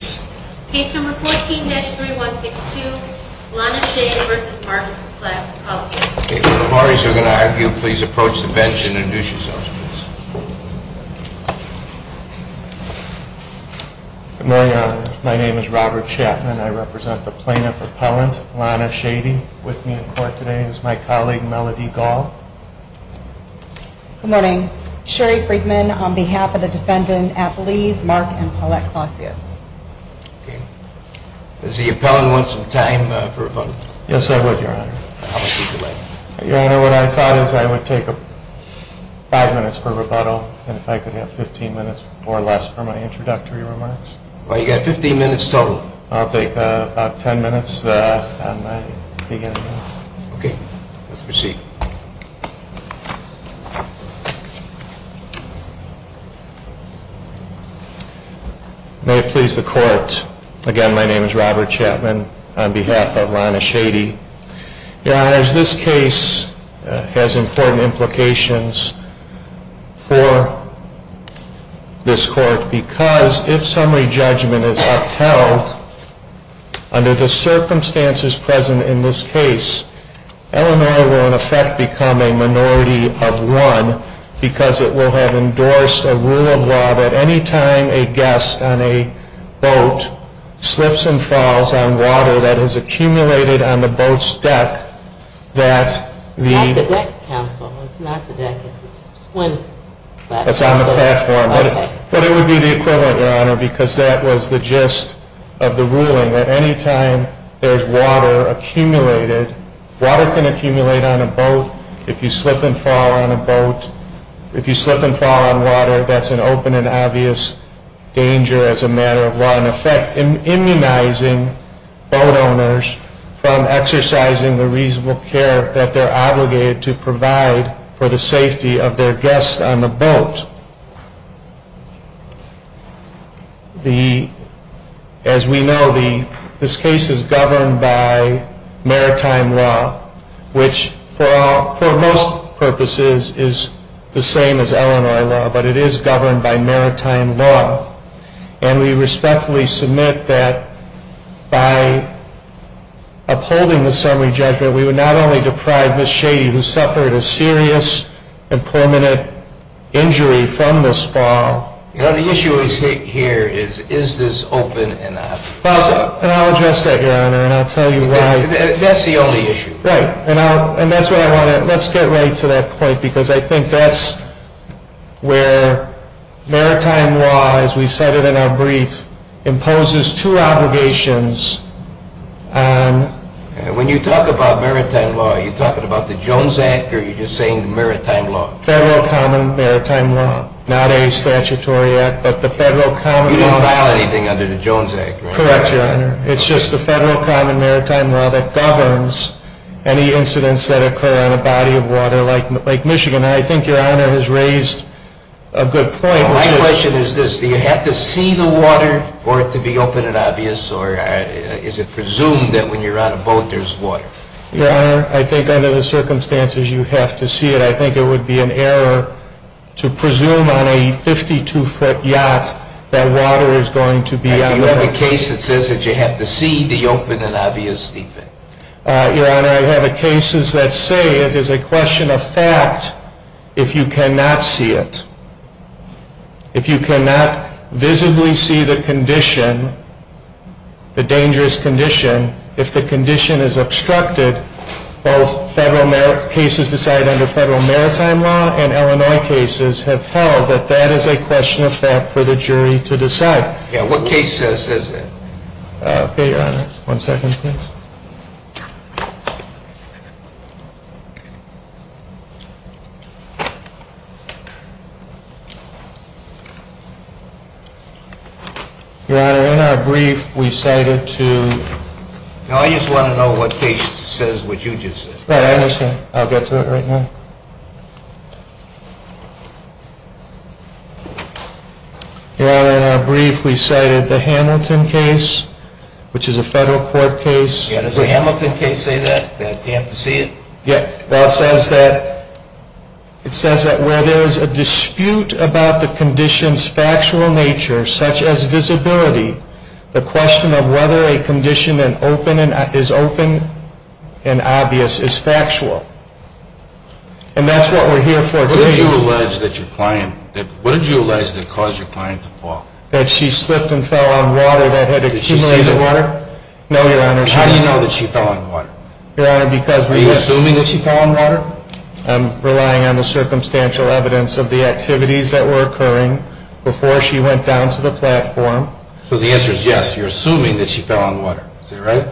Case number 14-3162, Lana Shade v. Mark and Paulette Clausius. If the parties are going to argue, please approach the bench and introduce yourselves, please. Good morning, Your Honor. My name is Robert Chapman. I represent the Plaintiff Appellant, Lana Shade. With me in court today is my colleague, Melody Gall. Good morning. Sherry Friedman on behalf of the Defendant Appellees Mark and Paulette Clausius. Does the Appellant want some time for rebuttal? Yes, I would, Your Honor. Your Honor, what I thought is I would take five minutes for rebuttal, and if I could have 15 minutes or less for my introductory remarks. Well, you've got 15 minutes total. I'll take about 10 minutes on my beginning. Okay. Let's proceed. May it please the Court. Again, my name is Robert Chapman on behalf of Lana Shade. Your Honor, this case has important implications for this Court because if summary judgment is upheld, under the circumstances present in this case, Illinois will in effect become a minority of one because it will have endorsed a rule of law that any time a guest on a boat slips and falls on water that has accumulated on the boat's deck that the It's not the deck, counsel. It's not the deck. It's the swim platform. But it would be the equivalent, Your Honor, because that was the gist of the ruling, that any time there's water accumulated, water can accumulate on a boat if you slip and fall on a boat. If you slip and fall on water, that's an open and obvious danger as a matter of law. And so, in effect, immunizing boat owners from exercising the reasonable care that they're obligated to provide for the safety of their guests on the boat. As we know, this case is governed by maritime law, which for most purposes is the same as Illinois law, but it is governed by maritime law. And we respectfully submit that by upholding the summary judgment, we would not only deprive Ms. Shady, who suffered a serious and permanent injury from this fall. The issue here is, is this open enough? Well, and I'll address that, Your Honor, and I'll tell you why. That's the only issue. Right, and that's what I want to, let's get right to that point, because I think that's where maritime law, as we've said it in our brief, imposes two obligations. When you talk about maritime law, are you talking about the Jones Act, or are you just saying maritime law? Federal Common Maritime Law, not a statutory act, but the Federal Common Maritime Law. You didn't file anything under the Jones Act, right? Correct, Your Honor. It's just the Federal Common Maritime Law that governs any incidents that occur on a body of water, like Lake Michigan. And I think Your Honor has raised a good point. My question is this. Do you have to see the water for it to be open and obvious, or is it presumed that when you're on a boat, there's water? Your Honor, I think under the circumstances, you have to see it. I think it would be an error to presume on a 52-foot yacht that water is going to be on the boat. Your Honor, you have a case that says that you have to see the open and obvious deep end. Your Honor, I have cases that say it is a question of fact if you cannot see it. If you cannot visibly see the condition, the dangerous condition, if the condition is obstructed, both cases decided under Federal Maritime Law and Illinois cases have held that that is a question of fact for the jury to decide. What case says that? Okay, Your Honor. One second, please. Your Honor, in our brief we cited to No, I just want to know what case says what you just said. I understand. I'll get to it right now. Your Honor, in our brief we cited the Hamilton case, which is a Federal Court case. Yeah, does the Hamilton case say that, that you have to see it? Yeah, well, it says that where there is a dispute about the condition's factual nature, such as visibility, the question of whether a condition is open and obvious is factual. And that's what we're here for today. What did you allege that caused your client to fall? That she slipped and fell on water that had accumulated water? Did she see the water? No, Your Honor. How do you know that she fell on water? Your Honor, because we have Are you assuming that she fell on water? I'm relying on the circumstantial evidence of the activities that were occurring before she went down to the platform. So the answer is yes, you're assuming that she fell on water. Is that right?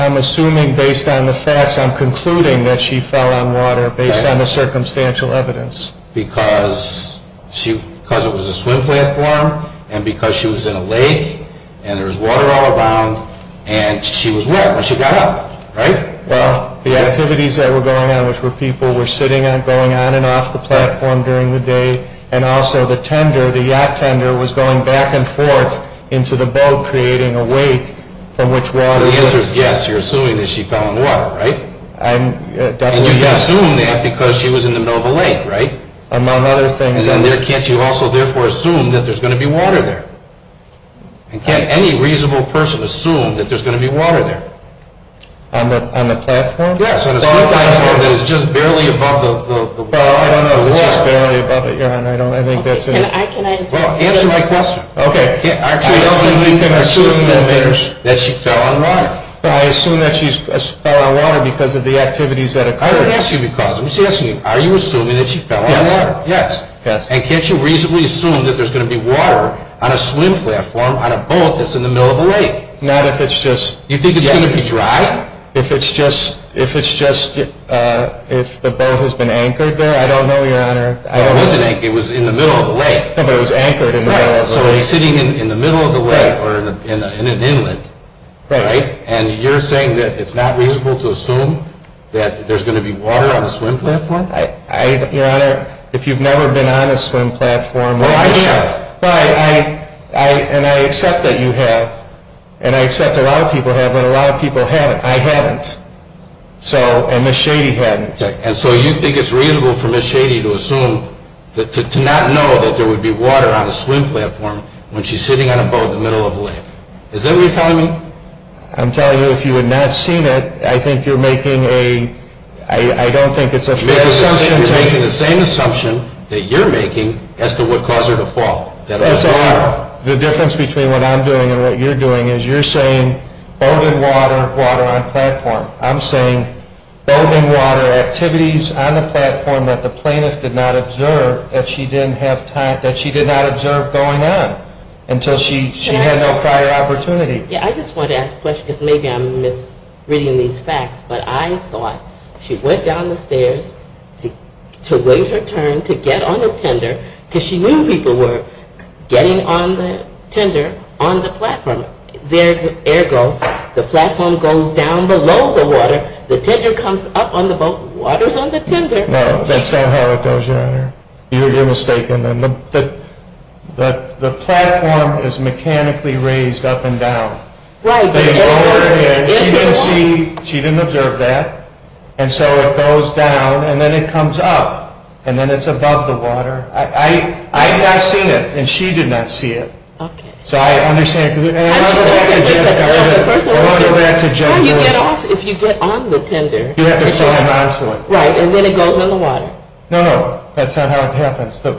I'm assuming based on the facts, I'm concluding that she fell on water based on the circumstantial evidence. Because it was a swim platform, and because she was in a lake, and there was water all around, and she was wet when she got up, right? Well, the activities that were going on, which were people were sitting going on and off the platform during the day, and also the tender, the yacht tender, was going back and forth into the boat creating a wake from which water... So the answer is yes, you're assuming that she fell on water, right? And you assume that because she was in the middle of a lake, right? Among other things... And can't you also therefore assume that there's going to be water there? And can't any reasonable person assume that there's going to be water there? On the platform? Yes, on a swim platform that is just barely above the water. Well, I don't know what... It's just barely above it, your honor, I don't think that's... Can I... Well, answer my question. Okay. I don't think you can assume that she fell on water. But I assume that she fell on water because of the activities that occurred. I didn't ask you because, I'm just asking you, are you assuming that she fell on water? Yes. Yes. And can't you reasonably assume that there's going to be water on a swim platform on a boat that's in the middle of a lake? Not if it's just... You think it's going to be dry? If it's just... If the boat has been anchored there? I don't know, your honor. It wasn't anchored. It was in the middle of the lake. But it was anchored in the middle of the lake. Right. So it's sitting in the middle of the lake or in an inlet. Right. And you're saying that it's not reasonable to assume that there's going to be water on a swim platform? Your honor, if you've never been on a swim platform... Well, I have. And I accept that you have. And I accept a lot of people have, but a lot of people haven't. I haven't. And Ms. Shady hadn't. And so you think it's reasonable for Ms. Shady to assume, to not know that there would be water on a swim platform when she's sitting on a boat in the middle of a lake. Is that what you're telling me? I'm telling you, if you had not seen it, I think you're making a... I don't think it's a fair assumption. I think you're making the same assumption that you're making as to what caused her to fall. That's a lie. The difference between what I'm doing and what you're doing is you're saying boating water, water on platform. I'm saying boating water activities on the platform that the plaintiff did not observe, that she did not observe going on until she had no prior opportunity. Yeah, I just wanted to ask a question because maybe I'm misreading these facts. But I thought she went down the stairs to wait her turn to get on the tender because she knew people were getting on the tender on the platform. There, ergo, the platform goes down below the water. The tender comes up on the boat. Water's on the tender. No, that's not how it goes, Your Honor. You're mistaken. The platform is mechanically raised up and down. Right. She didn't see, she didn't observe that. And so it goes down and then it comes up and then it's above the water. I had not seen it and she did not see it. Okay. So I understand. No, you get off if you get on the tender. You have to fall onto it. Right, and then it goes in the water. No, no, that's not how it happens. The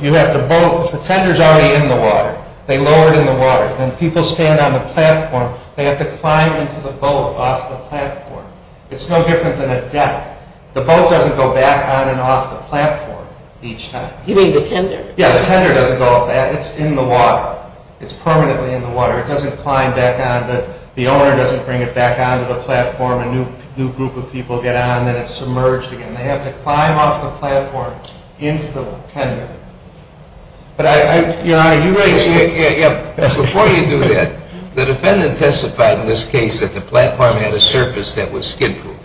tender's already in the water. They lower it in the water. Then people stand on the platform. They have to climb into the boat off the platform. It's no different than a deck. The boat doesn't go back on and off the platform each time. You mean the tender? Yeah, the tender doesn't go up. It's in the water. It's permanently in the water. It doesn't climb back on. The owner doesn't bring it back onto the platform. A new group of people get on and then it's submerged again. They have to climb off the platform into the tender. Your Honor, you raised the issue. Before you do that, the defendant testified in this case that the platform had a surface that was skid-proof.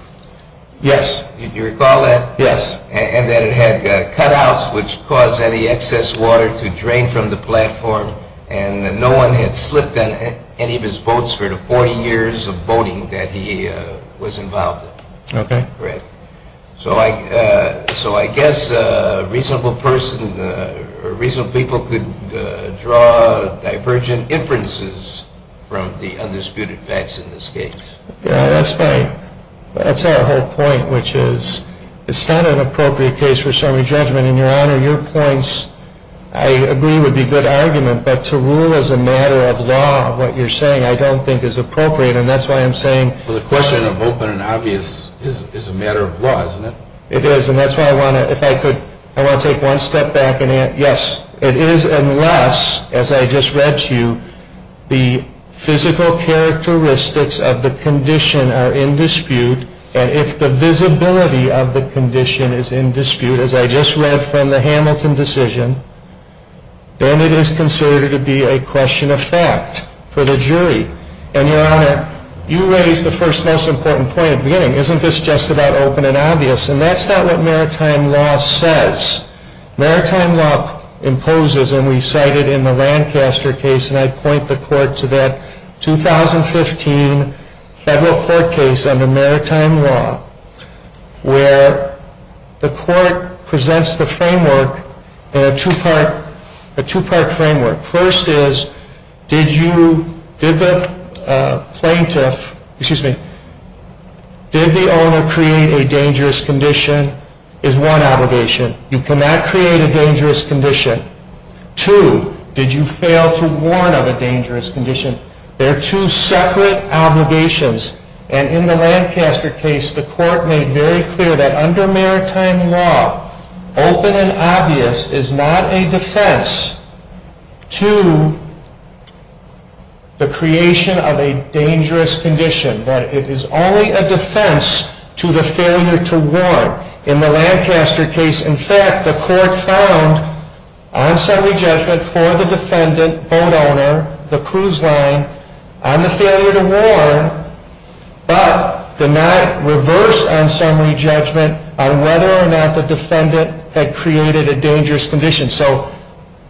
Yes. You recall that? Yes. And that it had cutouts which caused any excess water to drain from the platform and no one had slipped on any of his boats for the 40 years of boating that he was involved in. Okay. Correct. So I guess a reasonable person or reasonable people could draw divergent inferences from the undisputed facts in this case. Yeah, that's right. That's our whole point, which is it's not an appropriate case for summary judgment. And, Your Honor, your points, I agree, would be good argument. But to rule as a matter of law what you're saying I don't think is appropriate. Well, the question of open and obvious is a matter of law, isn't it? It is, and that's why I want to, if I could, I want to take one step back and answer. Yes, it is unless, as I just read to you, the physical characteristics of the condition are in dispute and if the visibility of the condition is in dispute, as I just read from the Hamilton decision, then it is considered to be a question of fact for the jury. And, Your Honor, you raised the first most important point at the beginning. Isn't this just about open and obvious? And that's not what maritime law says. Maritime law imposes, and we cited in the Lancaster case, and I'd point the court to that 2015 federal court case under maritime law where the court presents the framework in a two-part framework. First is did you, did the plaintiff, excuse me, did the owner create a dangerous condition is one obligation. You cannot create a dangerous condition. Two, did you fail to warn of a dangerous condition? They're two separate obligations. And in the Lancaster case, the court made very clear that under maritime law, open and obvious is not a defense to the creation of a dangerous condition, that it is only a defense to the failure to warn. In the Lancaster case, in fact, the court found on summary judgment for the defendant, boat owner, the cruise line, on the failure to warn, but did not reverse on summary judgment on whether or not the defendant had created a dangerous condition. So,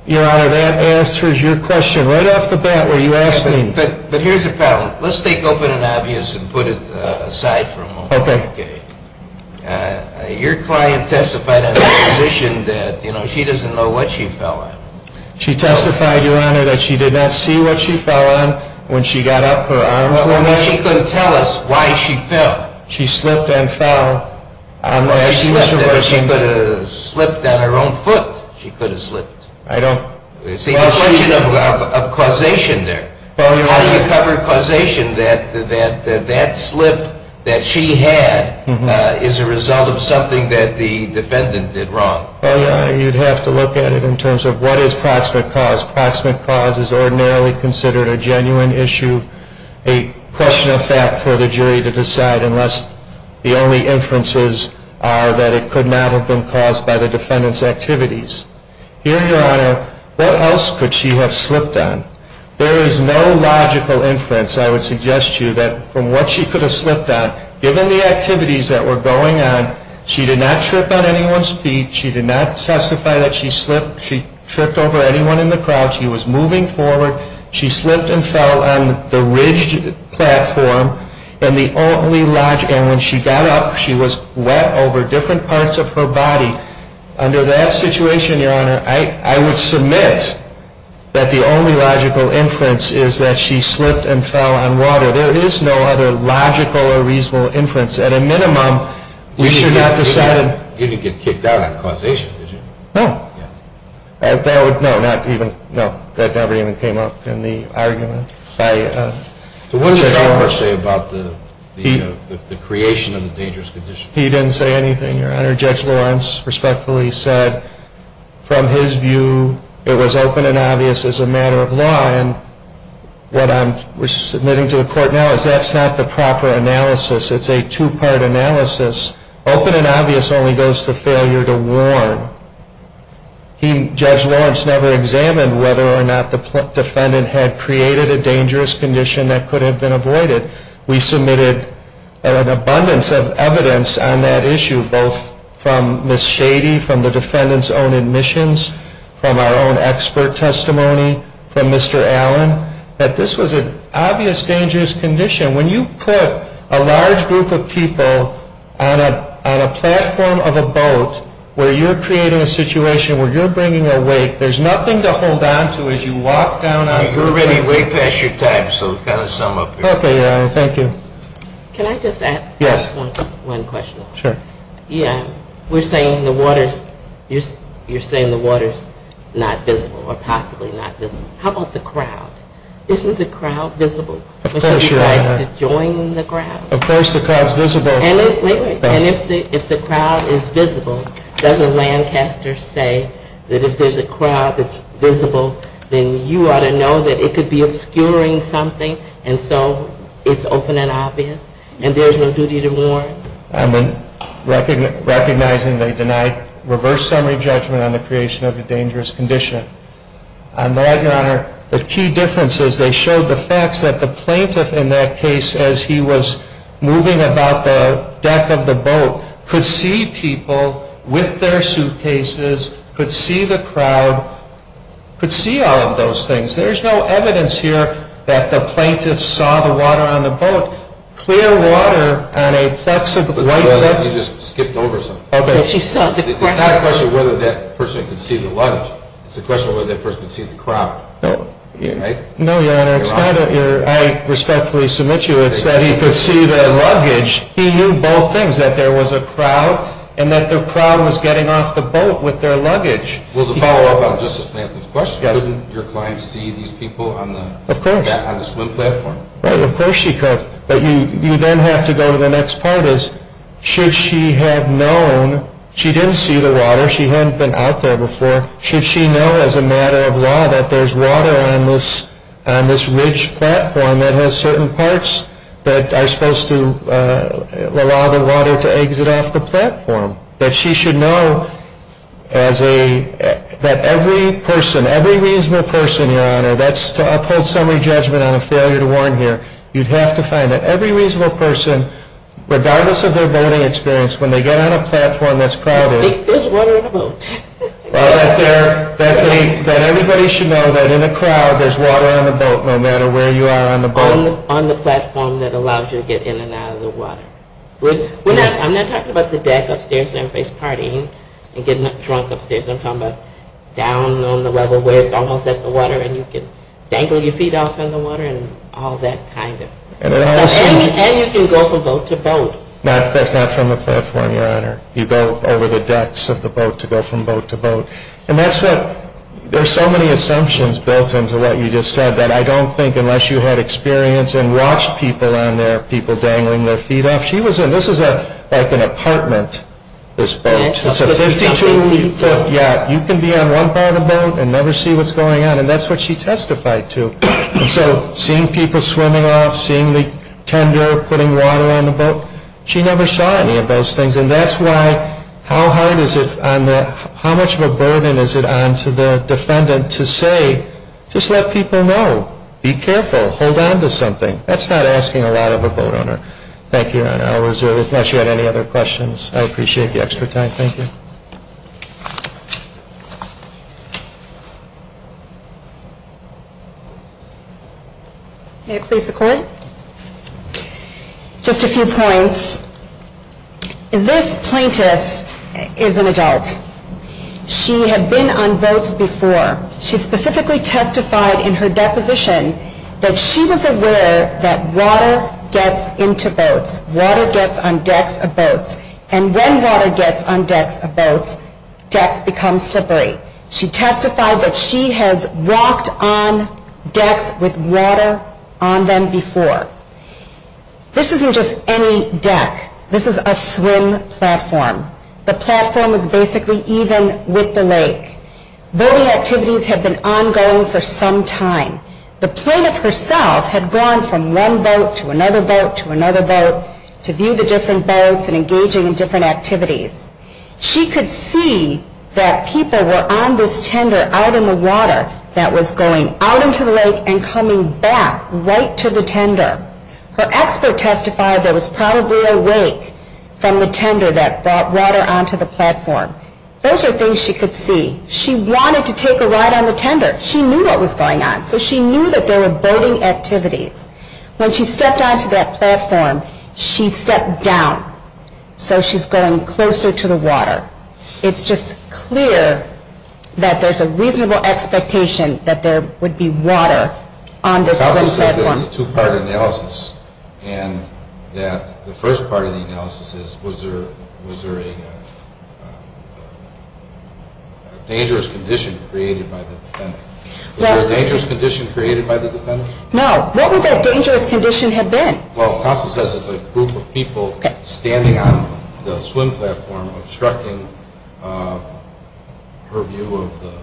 Your Honor, that answers your question. Right off the bat, were you asking? But here's the problem. Let's take open and obvious and put it aside for a moment. Okay. Your client testified on the position that, you know, she doesn't know what she fell on. She testified, Your Honor, that she did not see what she fell on when she got up, her arms went up. She couldn't tell us why she fell. She slipped and fell. She could have slipped on her own foot. She could have slipped. I don't. It's a question of causation there. How do you cover causation that that slip that she had is a result of something that the defendant did wrong? Well, Your Honor, you'd have to look at it in terms of what is proximate cause. Proximate cause is ordinarily considered a genuine issue, a question of fact for the jury to decide unless the only inferences are that it could not have been caused by the defendant's activities. Here, Your Honor, what else could she have slipped on? There is no logical inference, I would suggest to you, that from what she could have slipped on, given the activities that were going on, she did not trip on anyone's feet. She did not testify that she slipped. She tripped over anyone in the crowd. She was moving forward. She slipped and fell on the ridged platform. And the only logic, and when she got up, she was wet over different parts of her body. Under that situation, Your Honor, I would submit that the only logical inference is that she slipped and fell on water. There is no other logical or reasonable inference. At a minimum, we should not decide. You didn't get kicked out on causation, did you? No. No, that never even came up in the argument. What did the judge say about the creation of the dangerous condition? He didn't say anything, Your Honor. Judge Lawrence respectfully said, from his view, it was open and obvious as a matter of law. And what I'm submitting to the Court now is that's not the proper analysis. It's a two-part analysis. Open and obvious only goes to failure to warn. Judge Lawrence never examined whether or not the defendant had created a dangerous condition that could have been avoided. We submitted an abundance of evidence on that issue, both from Ms. Shady, from the defendant's own admissions, from our own expert testimony, from Mr. Allen, that this was an obvious dangerous condition. When you put a large group of people on a platform of a boat where you're creating a situation where you're bringing a wake, there's nothing to hold on to as you walk down onto the boat. You're already way past your time, so kind of sum up here. Okay, Your Honor. Thank you. Can I just add one question? Sure. Yeah. You're saying the water's not visible or possibly not visible. How about the crowd? Isn't the crowd visible? Of course, Your Honor. Would somebody like to join the crowd? Of course the crowd's visible. Wait, wait. And if the crowd is visible, doesn't Lancaster say that if there's a crowd that's visible, then you ought to know that it could be obscuring something, and so it's open and obvious, and there's no duty to warn? I'm recognizing they denied reverse summary judgment on the creation of a dangerous condition. On that, Your Honor, the key difference is they showed the facts that the plaintiff in that case, as he was moving about the deck of the boat, could see people with their suitcases, could see the crowd, could see all of those things. There's no evidence here that the plaintiff saw the water on the boat, clear water on a plexiglass. You just skipped over something. Okay. It's not a question of whether that person could see the luggage. It's a question of whether that person could see the crowd. No, Your Honor. I respectfully submit to you it's that he could see the luggage. He knew both things, that there was a crowd and that the crowd was getting off the boat with their luggage. Well, to follow up on Justice Plankton's question, couldn't your client see these people on the swim platform? Of course she could. But you then have to go to the next part is, should she have known she didn't see the water, she hadn't been out there before, should she know as a matter of law that there's water on this ridge platform that has certain parts that are supposed to allow the water to exit off the platform, that she should know that every person, every reasonable person, Your Honor, and that's to uphold summary judgment on a failure to warn here, you'd have to find that every reasonable person, regardless of their boating experience, when they get on a platform that's crowded. There's water on the boat. That everybody should know that in a crowd there's water on the boat no matter where you are on the boat. On the platform that allows you to get in and out of the water. I'm not talking about the deck upstairs and everybody's partying and getting drunk upstairs. I'm talking about down on the level where it's almost at the water and you can dangle your feet off in the water and all that kind of. And you can go from boat to boat. That's not from the platform, Your Honor. You go over the decks of the boat to go from boat to boat. And that's what, there's so many assumptions built into what you just said that I don't think unless you had experience and watched people on there, people dangling their feet off, she was in, this is like an apartment, this boat. It's a 52-foot yacht. You can be on one part of the boat and never see what's going on. And that's what she testified to. So seeing people swimming off, seeing the tender putting water on the boat, she never saw any of those things. And that's why, how hard is it on the, how much of a burden is it on to the defendant to say, just let people know, be careful, hold on to something. That's not asking a lot of a boat owner. Thank you, Your Honor. If not, she had any other questions. I appreciate the extra time. Thank you. May it please the Court? Just a few points. This plaintiff is an adult. She had been on boats before. She specifically testified in her deposition that she was aware that water gets into boats. Water gets on decks of boats. And when water gets on decks of boats, decks become slippery. She testified that she has walked on decks with water on them before. This isn't just any deck. This is a swim platform. The platform is basically even with the lake. Boating activities have been ongoing for some time. The plaintiff herself had gone from one boat to another boat to another boat to view the different boats and engaging in different activities. She could see that people were on this tender out in the water that was going out into the lake and coming back right to the tender. Her expert testified that was probably awake from the tender that brought water onto the platform. Those are things she could see. She wanted to take a ride on the tender. She knew what was going on. So she knew that there were boating activities. When she stepped onto that platform, she stepped down. So she's going closer to the water. It's just clear that there's a reasonable expectation that there would be water on this swim platform. It's a two-part analysis. The first part of the analysis is, was there a dangerous condition created by the defendant? Was there a dangerous condition created by the defendant? No. What would that dangerous condition have been? The counsel says it's a group of people standing on the swim platform obstructing her view of the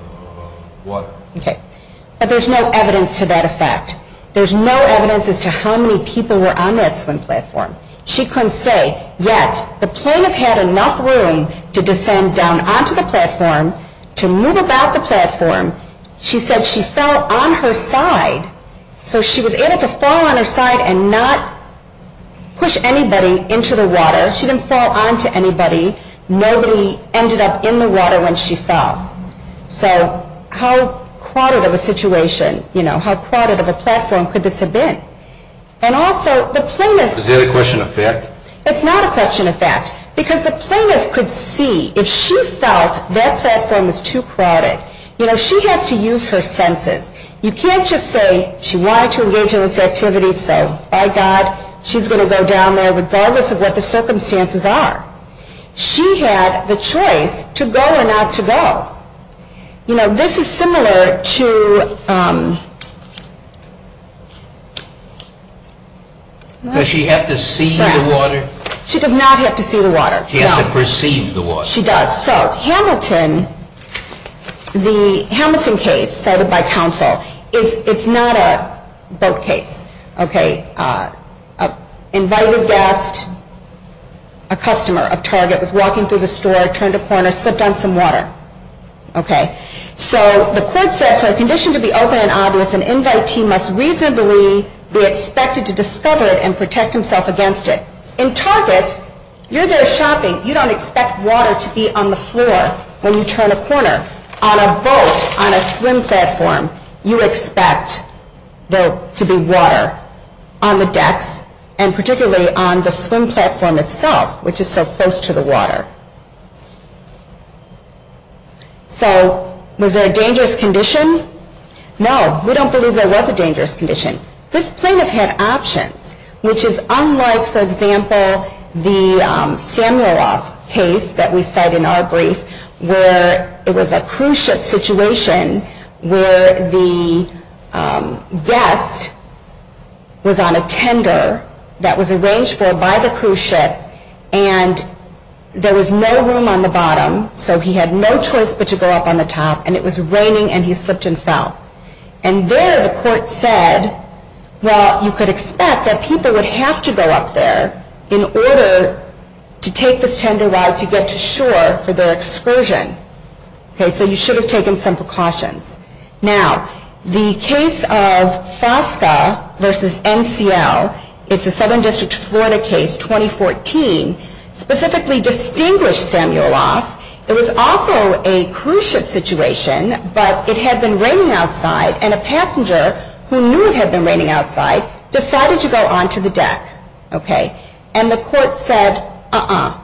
water. Okay. But there's no evidence to that effect. There's no evidence as to how many people were on that swim platform. She couldn't say. Yet, the plaintiff had enough room to descend down onto the platform, to move about the platform. She said she fell on her side. So she was able to fall on her side and not push anybody into the water. She didn't fall onto anybody. Nobody ended up in the water when she fell. So how crowded of a situation, you know, how crowded of a platform could this have been? And also, the plaintiff. Is that a question of fact? It's not a question of fact. Because the plaintiff could see if she felt that platform was too crowded. You know, she has to use her senses. You can't just say she wanted to engage in this activity, so by God, she's going to go down there regardless of what the circumstances are. She had the choice to go or not to go. You know, this is similar to... Does she have to see the water? She does not have to see the water. She has to perceive the water. She does. So Hamilton, the Hamilton case cited by counsel, it's not a boat case. Okay. Invited guest, a customer of Target was walking through the store, turned a corner, slipped on some water. Okay. So the court said, for a condition to be open and obvious, an invitee must reasonably be expected to discover it and protect himself against it. In Target, you're there shopping. You don't expect water to be on the floor when you turn a corner. On a boat, on a swim platform, you expect there to be water on the decks and particularly on the swim platform itself, which is so close to the water. So was there a dangerous condition? No. We don't believe there was a dangerous condition. This plaintiff had options, which is unlike, for example, the Samueloff case that we cite in our brief where it was a cruise ship situation where the guest was on a tender that was arranged for by the cruise ship and there was no room on the bottom so he had no choice but to go up on the top and it was raining and he slipped and fell. And there the court said, well, you could expect that people would have to go up there in order to take this tender right to get to shore for their excursion. Okay. So you should have taken some precautions. Now, the case of Fosca v. NCL, it's a Southern District of Florida case, 2014, specifically distinguished Samueloff. It was also a cruise ship situation, but it had been raining outside and a passenger who knew it had been raining outside decided to go onto the deck. Okay. And the court said, uh-uh,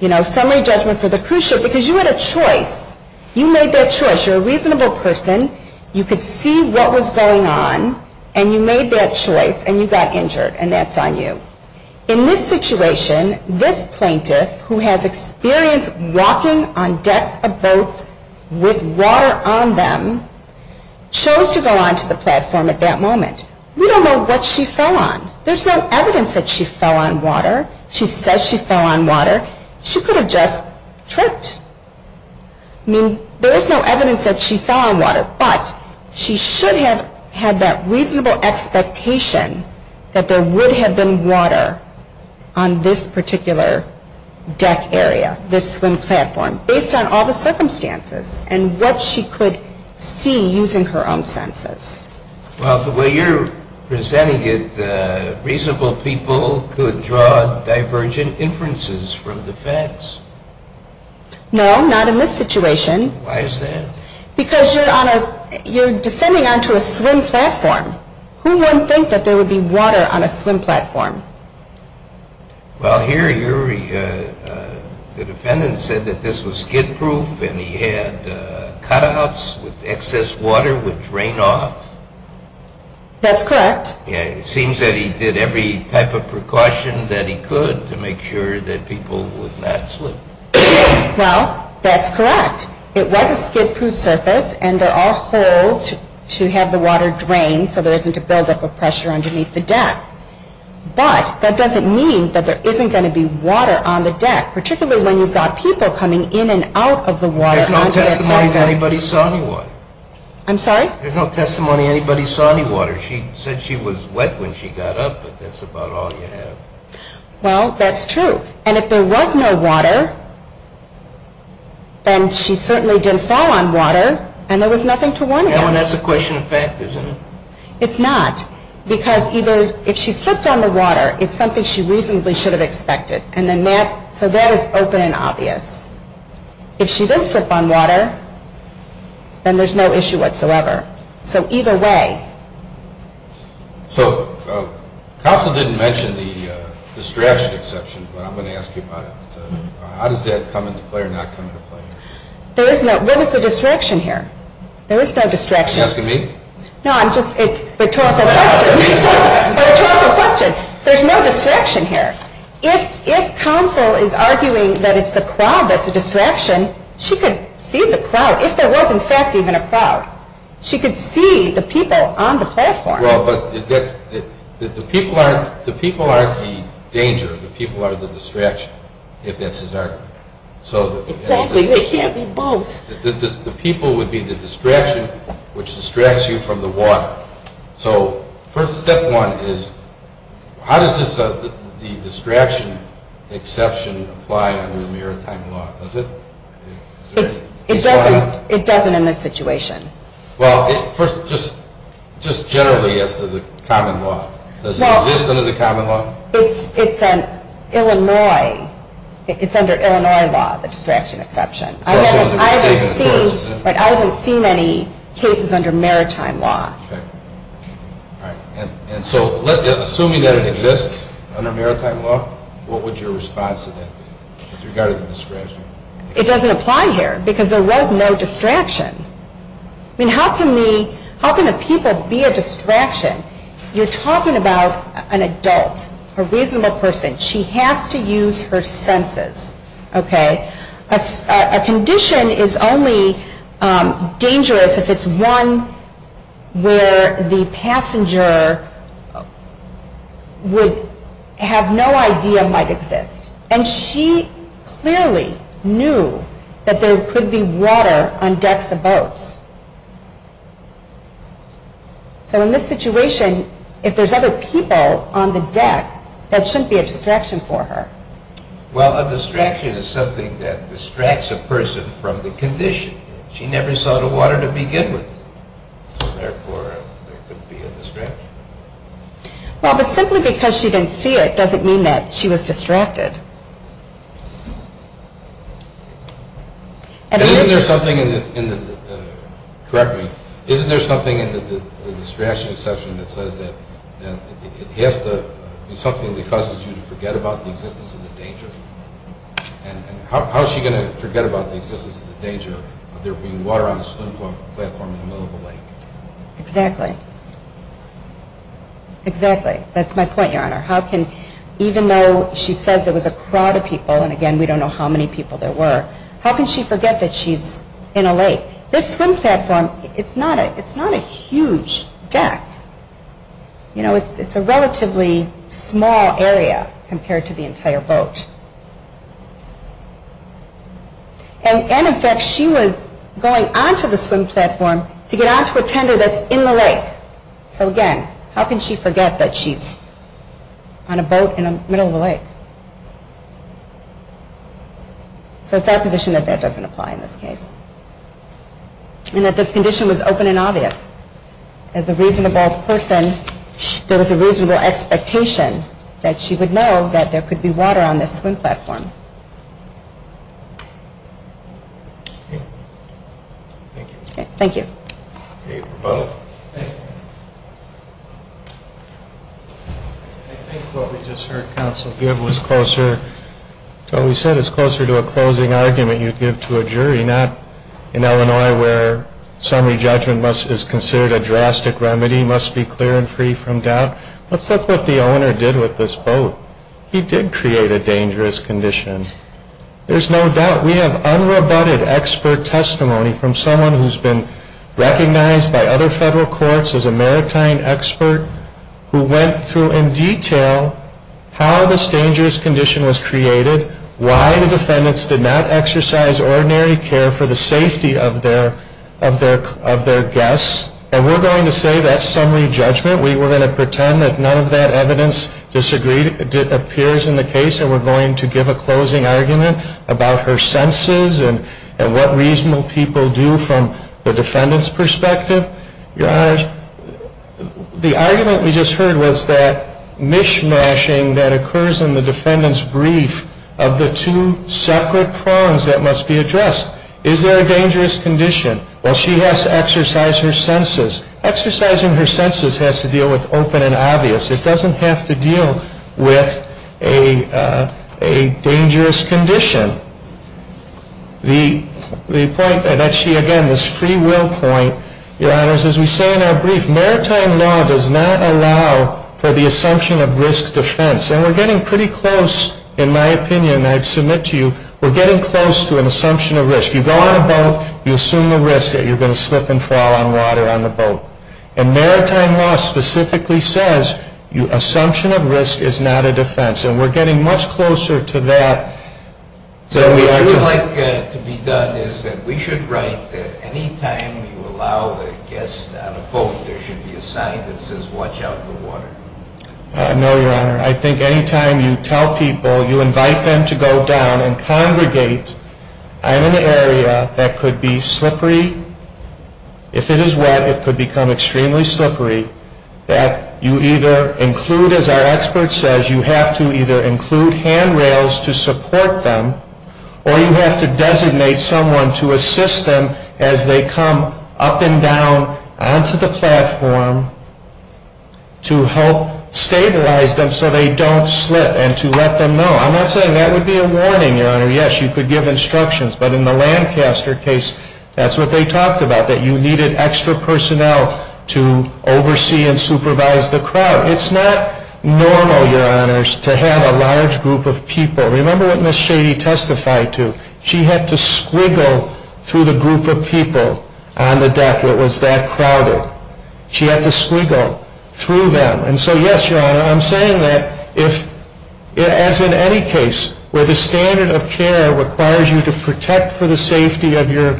you know, summary judgment for the cruise ship because you had a choice. You made that choice. You're a reasonable person. You could see what was going on and you made that choice and you got injured and that's on you. Now, in this situation, this plaintiff, who has experience walking on decks of boats with water on them, chose to go onto the platform at that moment. We don't know what she fell on. There's no evidence that she fell on water. She says she fell on water. She could have just tripped. I mean, there is no evidence that she fell on water, but she should have had that reasonable expectation that there would have been water on the deck. There is no evidence that she fell on water on this particular deck area, this swim platform, based on all the circumstances and what she could see using her own senses. Well, the way you're presenting it, reasonable people could draw divergent inferences from the facts. No, not in this situation. Why is that? Because you're on a, you're descending onto a swim platform. Who wouldn't think that there would be water on a swim platform? Well, here, Uri, the defendant said that this was skid-proof and he had cutouts where excess water would drain off. That's correct. It seems that he did every type of precaution that he could to make sure that people would not slip. Well, that's correct. It was a skid-proof surface and there are holes to have the water drain so there isn't a buildup of pressure underneath the deck. But that doesn't mean that there isn't going to be water on the deck, particularly when you've got people coming in and out of the water. There's no testimony that anybody saw any water. I'm sorry? There's no testimony anybody saw any water. She said she was wet when she got up, but that's about all you have. Well, that's true. And if there was no water, then she certainly didn't fall on water and there was nothing to warn him. And that's a question of fact, isn't it? It's not. Because either if she slipped on the water, it's something she reasonably should have expected. And then that, so that is open and obvious. If she did slip on water, then there's no issue whatsoever. So either way. So, Council didn't mention the distraction exception, but I'm going to ask you about it. How does that come into play or not come into play? There is no, what is the distraction here? There is no distraction. Are you asking me? No, I'm just, a rhetorical question. A rhetorical question. There's no distraction here. If Council is arguing that it's the crowd that's a distraction, she could see the crowd, if there was in fact even a crowd. She could see the people on the platform. Well, but the people aren't the danger. The people are the distraction, if that's his argument. Exactly. They can't be both. The people would be the distraction, which distracts you from the water. So, first step one is, how does the distraction exception apply under maritime law? Does it? It doesn't. It doesn't in this situation. Well, first, just generally as to the common law. Does it exist under the common law? It's an Illinois, it's under Illinois law, the distraction exception. I haven't seen any cases under maritime law. Okay. All right. And so, assuming that it exists under maritime law, what would your response to that be, with regard to the distraction? It doesn't apply here, because there was no distraction. I mean, how can the people be a distraction? You're talking about an adult, a reasonable person. She has to use her senses. Okay. A condition is only dangerous if it's one where the passenger would have no idea might exist. And she clearly knew that there could be water on decks of boats. So, in this situation, if there's other people on the deck, that shouldn't be a distraction for her. Well, a distraction is something that distracts a person from the condition. She never saw the water to begin with. Well, but simply because she didn't see it doesn't mean that she was distracted. Isn't there something in the, correct me, isn't there something in the distraction exception that says that it has to be something that causes you to forget about the existence of the danger? And how is she going to forget about the existence of the danger of there being water on a swimming platform in the middle of a lake? Exactly. Exactly. That's my point, Your Honor. How can, even though she says there was a crowd of people, and again, we don't know how many people there were, how can she forget that she's in a lake? This swim platform, it's not a huge deck. You know, it's a relatively small area compared to the entire boat. And in fact, she was going onto the swim platform to get onto a tender that's in the lake. So again, how can she forget that she's on a boat in the middle of a lake? So it's our position that that doesn't apply in this case. And that this condition was open and obvious. As a reasonable person, there was a reasonable expectation that she would know that there could be water on this swim platform. Thank you. Thank you. Thank you for both. Thank you. I think what we just heard counsel give was closer to what we said. It's closer to a closing argument you'd give to a jury, not in Illinois, where summary judgment is considered a drastic remedy, must be clear and free from doubt. Let's look at what the owner did with this boat. He did create a dangerous condition. There's no doubt. We have unrebutted expert testimony from someone who's been recognized by other federal courts as a maritime expert who went through in detail how this dangerous condition was created, why the defendants did not exercise ordinary care for the safety of their guests. And we're going to say that's summary judgment. We were going to pretend that none of that evidence appears in the case and we're going to give a closing argument about her senses and what reasonable people do from the defendant's perspective. Your Honor, the argument we just heard was that mishmashing that occurs in the defendant's brief of the two separate prongs that must be addressed. Is there a dangerous condition? Well, she has to exercise her senses. Exercising her senses has to deal with open and obvious. It doesn't have to deal with a dangerous condition. The point that she, again, this free will point, Your Honors, as we say in our brief, maritime law does not allow for the assumption of risk defense. And we're getting pretty close, in my opinion, and I submit to you, we're getting close to an assumption of risk. You go on a boat, you assume the risk that you're going to slip and fall on water on the boat. And maritime law specifically says assumption of risk is not a defense. And we're getting much closer to that. So what you would like to be done is that we should write that any time you allow a guest on a boat, there should be a sign that says watch out for water. No, Your Honor. I think any time you tell people, you invite them to go down and congregate, in an area that could be slippery, if it is wet, it could become extremely slippery, that you either include, as our expert says, you have to either include handrails to support them or you have to designate someone to assist them as they come up and down onto the platform to help stabilize them so they don't slip and to let them know. I'm not saying that would be a warning, Your Honor. Yes, you could give instructions. But in the Lancaster case, that's what they talked about, that you needed extra personnel to oversee and supervise the crowd. It's not normal, Your Honors, to have a large group of people. Remember what Ms. Shady testified to. She had to squiggle through the group of people on the deck that was that crowded. She had to squiggle through them. And so, yes, Your Honor, I'm saying that if, as in any case, where the standard of care requires you to protect for the safety of your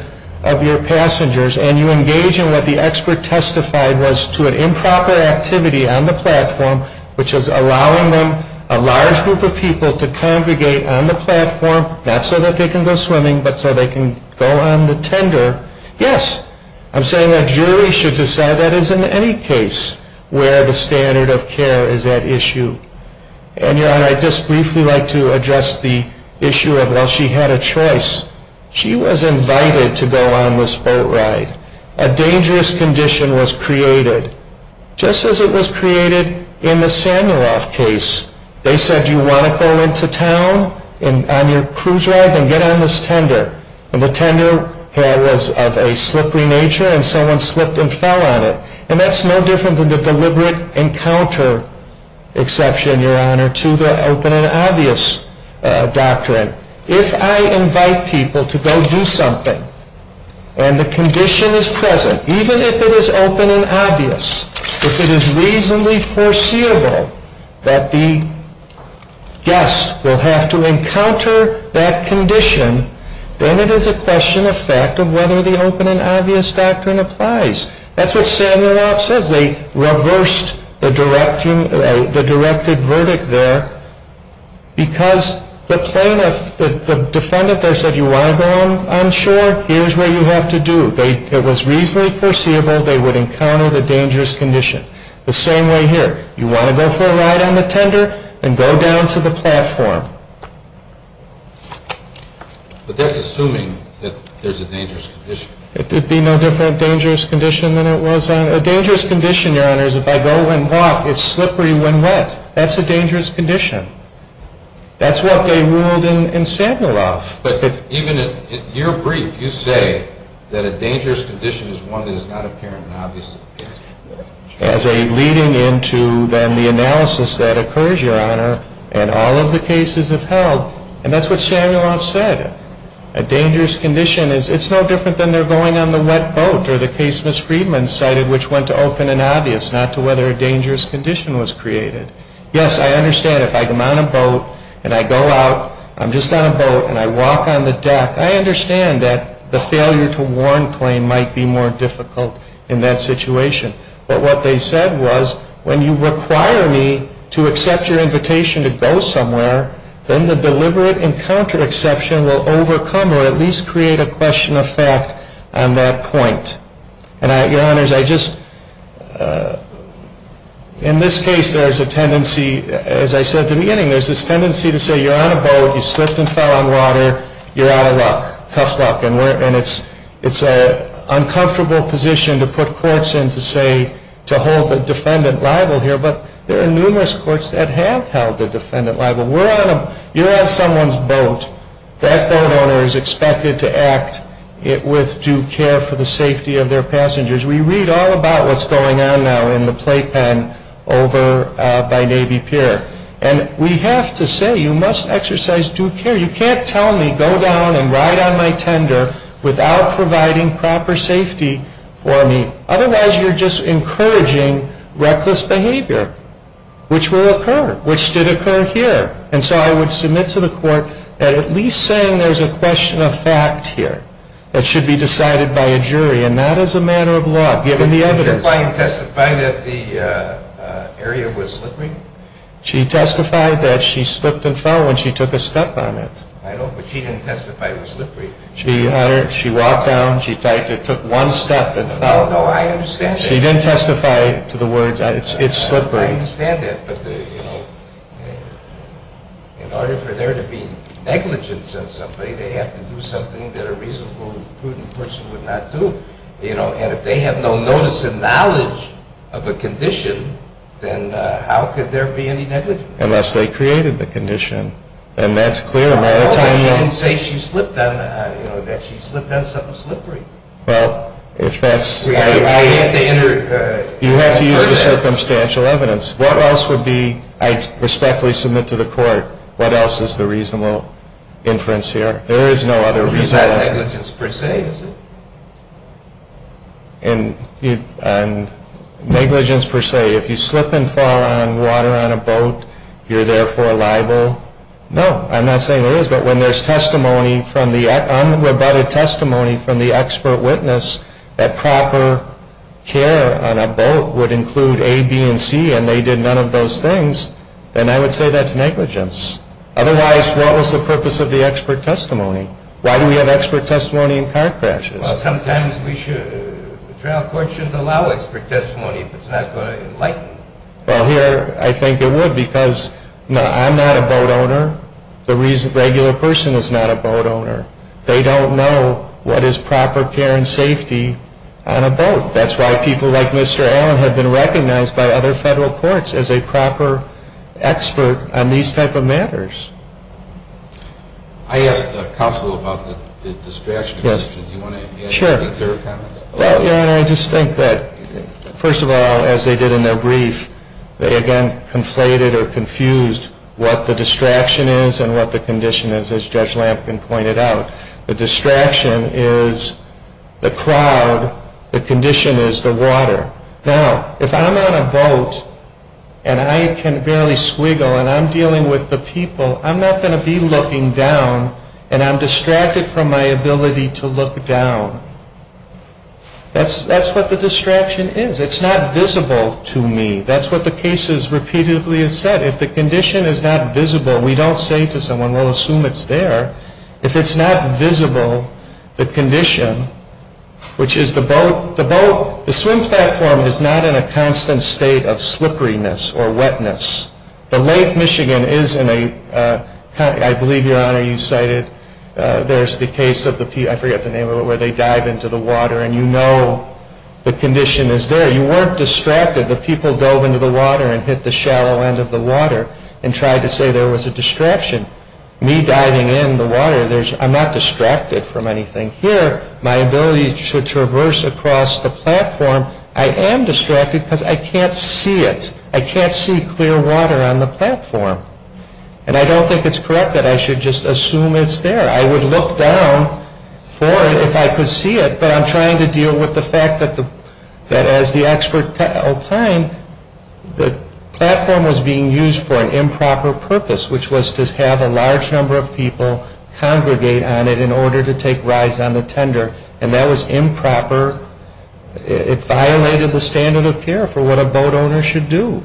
passengers and you engage in what the expert testified was to an improper activity on the platform, which is allowing them, a large group of people, to congregate on the platform, not so that they can go swimming, but so they can go on the tender, yes, I'm saying that juries should decide that is in any case where the standard of care is at issue. And, Your Honor, I'd just briefly like to address the issue of, well, she had a choice. She was invited to go on this boat ride. A dangerous condition was created. Just as it was created in the Samuroff case. They said, do you want to go into town on your cruise ride? Then get on this tender. And the tender was of a slippery nature and someone slipped and fell on it. And that's no different than the deliberate encounter exception, Your Honor, to the open and obvious doctrine. If I invite people to go do something and the condition is present, even if it is open and obvious, if it is reasonably foreseeable that the guest will have to encounter that condition, then it is a question of fact of whether the open and obvious doctrine applies. That's what Samuroff says. They reversed the directed verdict there because the plaintiff, the defendant there said, you want to go on shore? Here's what you have to do. It was reasonably foreseeable. They would encounter the dangerous condition. The same way here. You want to go for a ride on the tender? Then go down to the platform. But that's assuming that there's a dangerous condition. It would be no different dangerous condition than it was on a dangerous condition, Your Honors. If I go and walk, it's slippery when wet. That's a dangerous condition. That's what they ruled in Samuroff. But even in your brief, you say that a dangerous condition is one that is not apparent and obvious. As a leading into then the analysis that occurs, Your Honor, and all of the cases have held, and that's what Samuroff said. A dangerous condition is, it's no different than they're going on the wet boat, or the case Ms. Friedman cited, which went to open and obvious, not to whether a dangerous condition was created. Yes, I understand if I come on a boat and I go out. I'm just on a boat and I walk on the deck. I understand that the failure to warn claim might be more difficult in that situation. But what they said was, when you require me to accept your invitation to go somewhere, then the deliberate encountered exception will overcome or at least create a question of fact on that point. And, Your Honors, I just, in this case, there's a tendency, as I said at the beginning, there's this tendency to say you're on a boat, you slipped and fell on water, you're out of luck, tough luck. And it's an uncomfortable position to put courts in to say, to hold the defendant liable here. But there are numerous courts that have held the defendant liable. We're on a, you're on someone's boat. That boat owner is expected to act with due care for the safety of their passengers. We read all about what's going on now in the playpen over by Navy Pier. And we have to say you must exercise due care. You can't tell me go down and ride on my tender without providing proper safety for me. Otherwise, you're just encouraging reckless behavior, which will occur, which did occur here. And so I would submit to the court that at least saying there's a question of fact here that should be decided by a jury and not as a matter of law, given the evidence. Did your client testify that the area was slippery? She testified that she slipped and fell when she took a step on it. I know, but she didn't testify it was slippery. She walked down, she took one step and fell. No, I understand that. She didn't testify to the words, it's slippery. I understand that. But in order for there to be negligence on somebody, they have to do something that a reasonable and prudent person would not do. And if they have no notice and knowledge of a condition, then how could there be any negligence? Unless they created the condition. And that's clear. No, she didn't say that she slipped on something slippery. Well, if that's the case, you have to use the circumstantial evidence. What else would be, I respectfully submit to the court, what else is the reasonable inference here? There is no other reason. It's not negligence per se. Negligence per se. If you slip and fall on water on a boat, you're therefore liable. No, I'm not saying there is, but when there's testimony from the, unrebutted testimony from the expert witness, that proper care on a boat would include A, B, and C, and they did none of those things, then I would say that's negligence. Otherwise, what was the purpose of the expert testimony? Why do we have expert testimony in car crashes? Well, sometimes the trial court shouldn't allow expert testimony if it's not going to enlighten. Well, here I think it would because I'm not a boat owner. The regular person is not a boat owner. They don't know what is proper care and safety on a boat. That's why people like Mr. Allen have been recognized by other federal courts as a proper expert on these type of matters. I asked the counsel about the distraction. Do you want to add anything to her comments? Sure. I just think that, first of all, as they did in their brief, they again conflated or confused what the distraction is and what the condition is, as Judge Lampkin pointed out. The distraction is the crowd. The condition is the water. Now, if I'm on a boat and I can barely squiggle and I'm dealing with the people, I'm not going to be looking down and I'm distracted from my ability to look down. That's what the distraction is. It's not visible to me. That's what the cases repeatedly have said. If the condition is not visible, we don't say to someone, we'll assume it's there. If it's not visible, the condition, which is the boat, the swim platform is not in a constant state of slipperiness or wetness. The Lake Michigan is in a, I believe, Your Honor, you cited, there's the case of the, I forget the name of it, where they dive into the water and you know the condition is there. You weren't distracted. The people dove into the water and hit the shallow end of the water and tried to say there was a distraction. Me diving in the water, I'm not distracted from anything. Here, my ability to traverse across the platform, I am distracted because I can't see it. I can't see clear water on the platform. And I don't think it's correct that I should just assume it's there. I would look down for it if I could see it, but I'm trying to deal with the fact that as the expert opined, the platform was being used for an improper purpose, which was to have a large number of people congregate on it in order to take rides on the tender. And that was improper. It violated the standard of care for what a boat owner should do.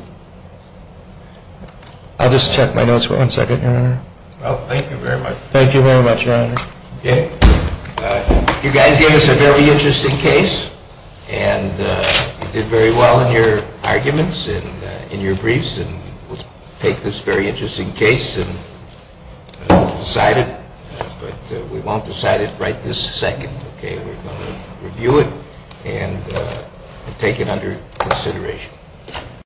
I'll just check my notes for one second, Your Honor. Oh, thank you very much. Thank you very much, Your Honor. Okay. You guys gave us a very interesting case, and you did very well in your arguments and in your briefs, and we'll take this very interesting case and decide it. But we won't decide it right this second, okay? We're going to review it and take it under consideration.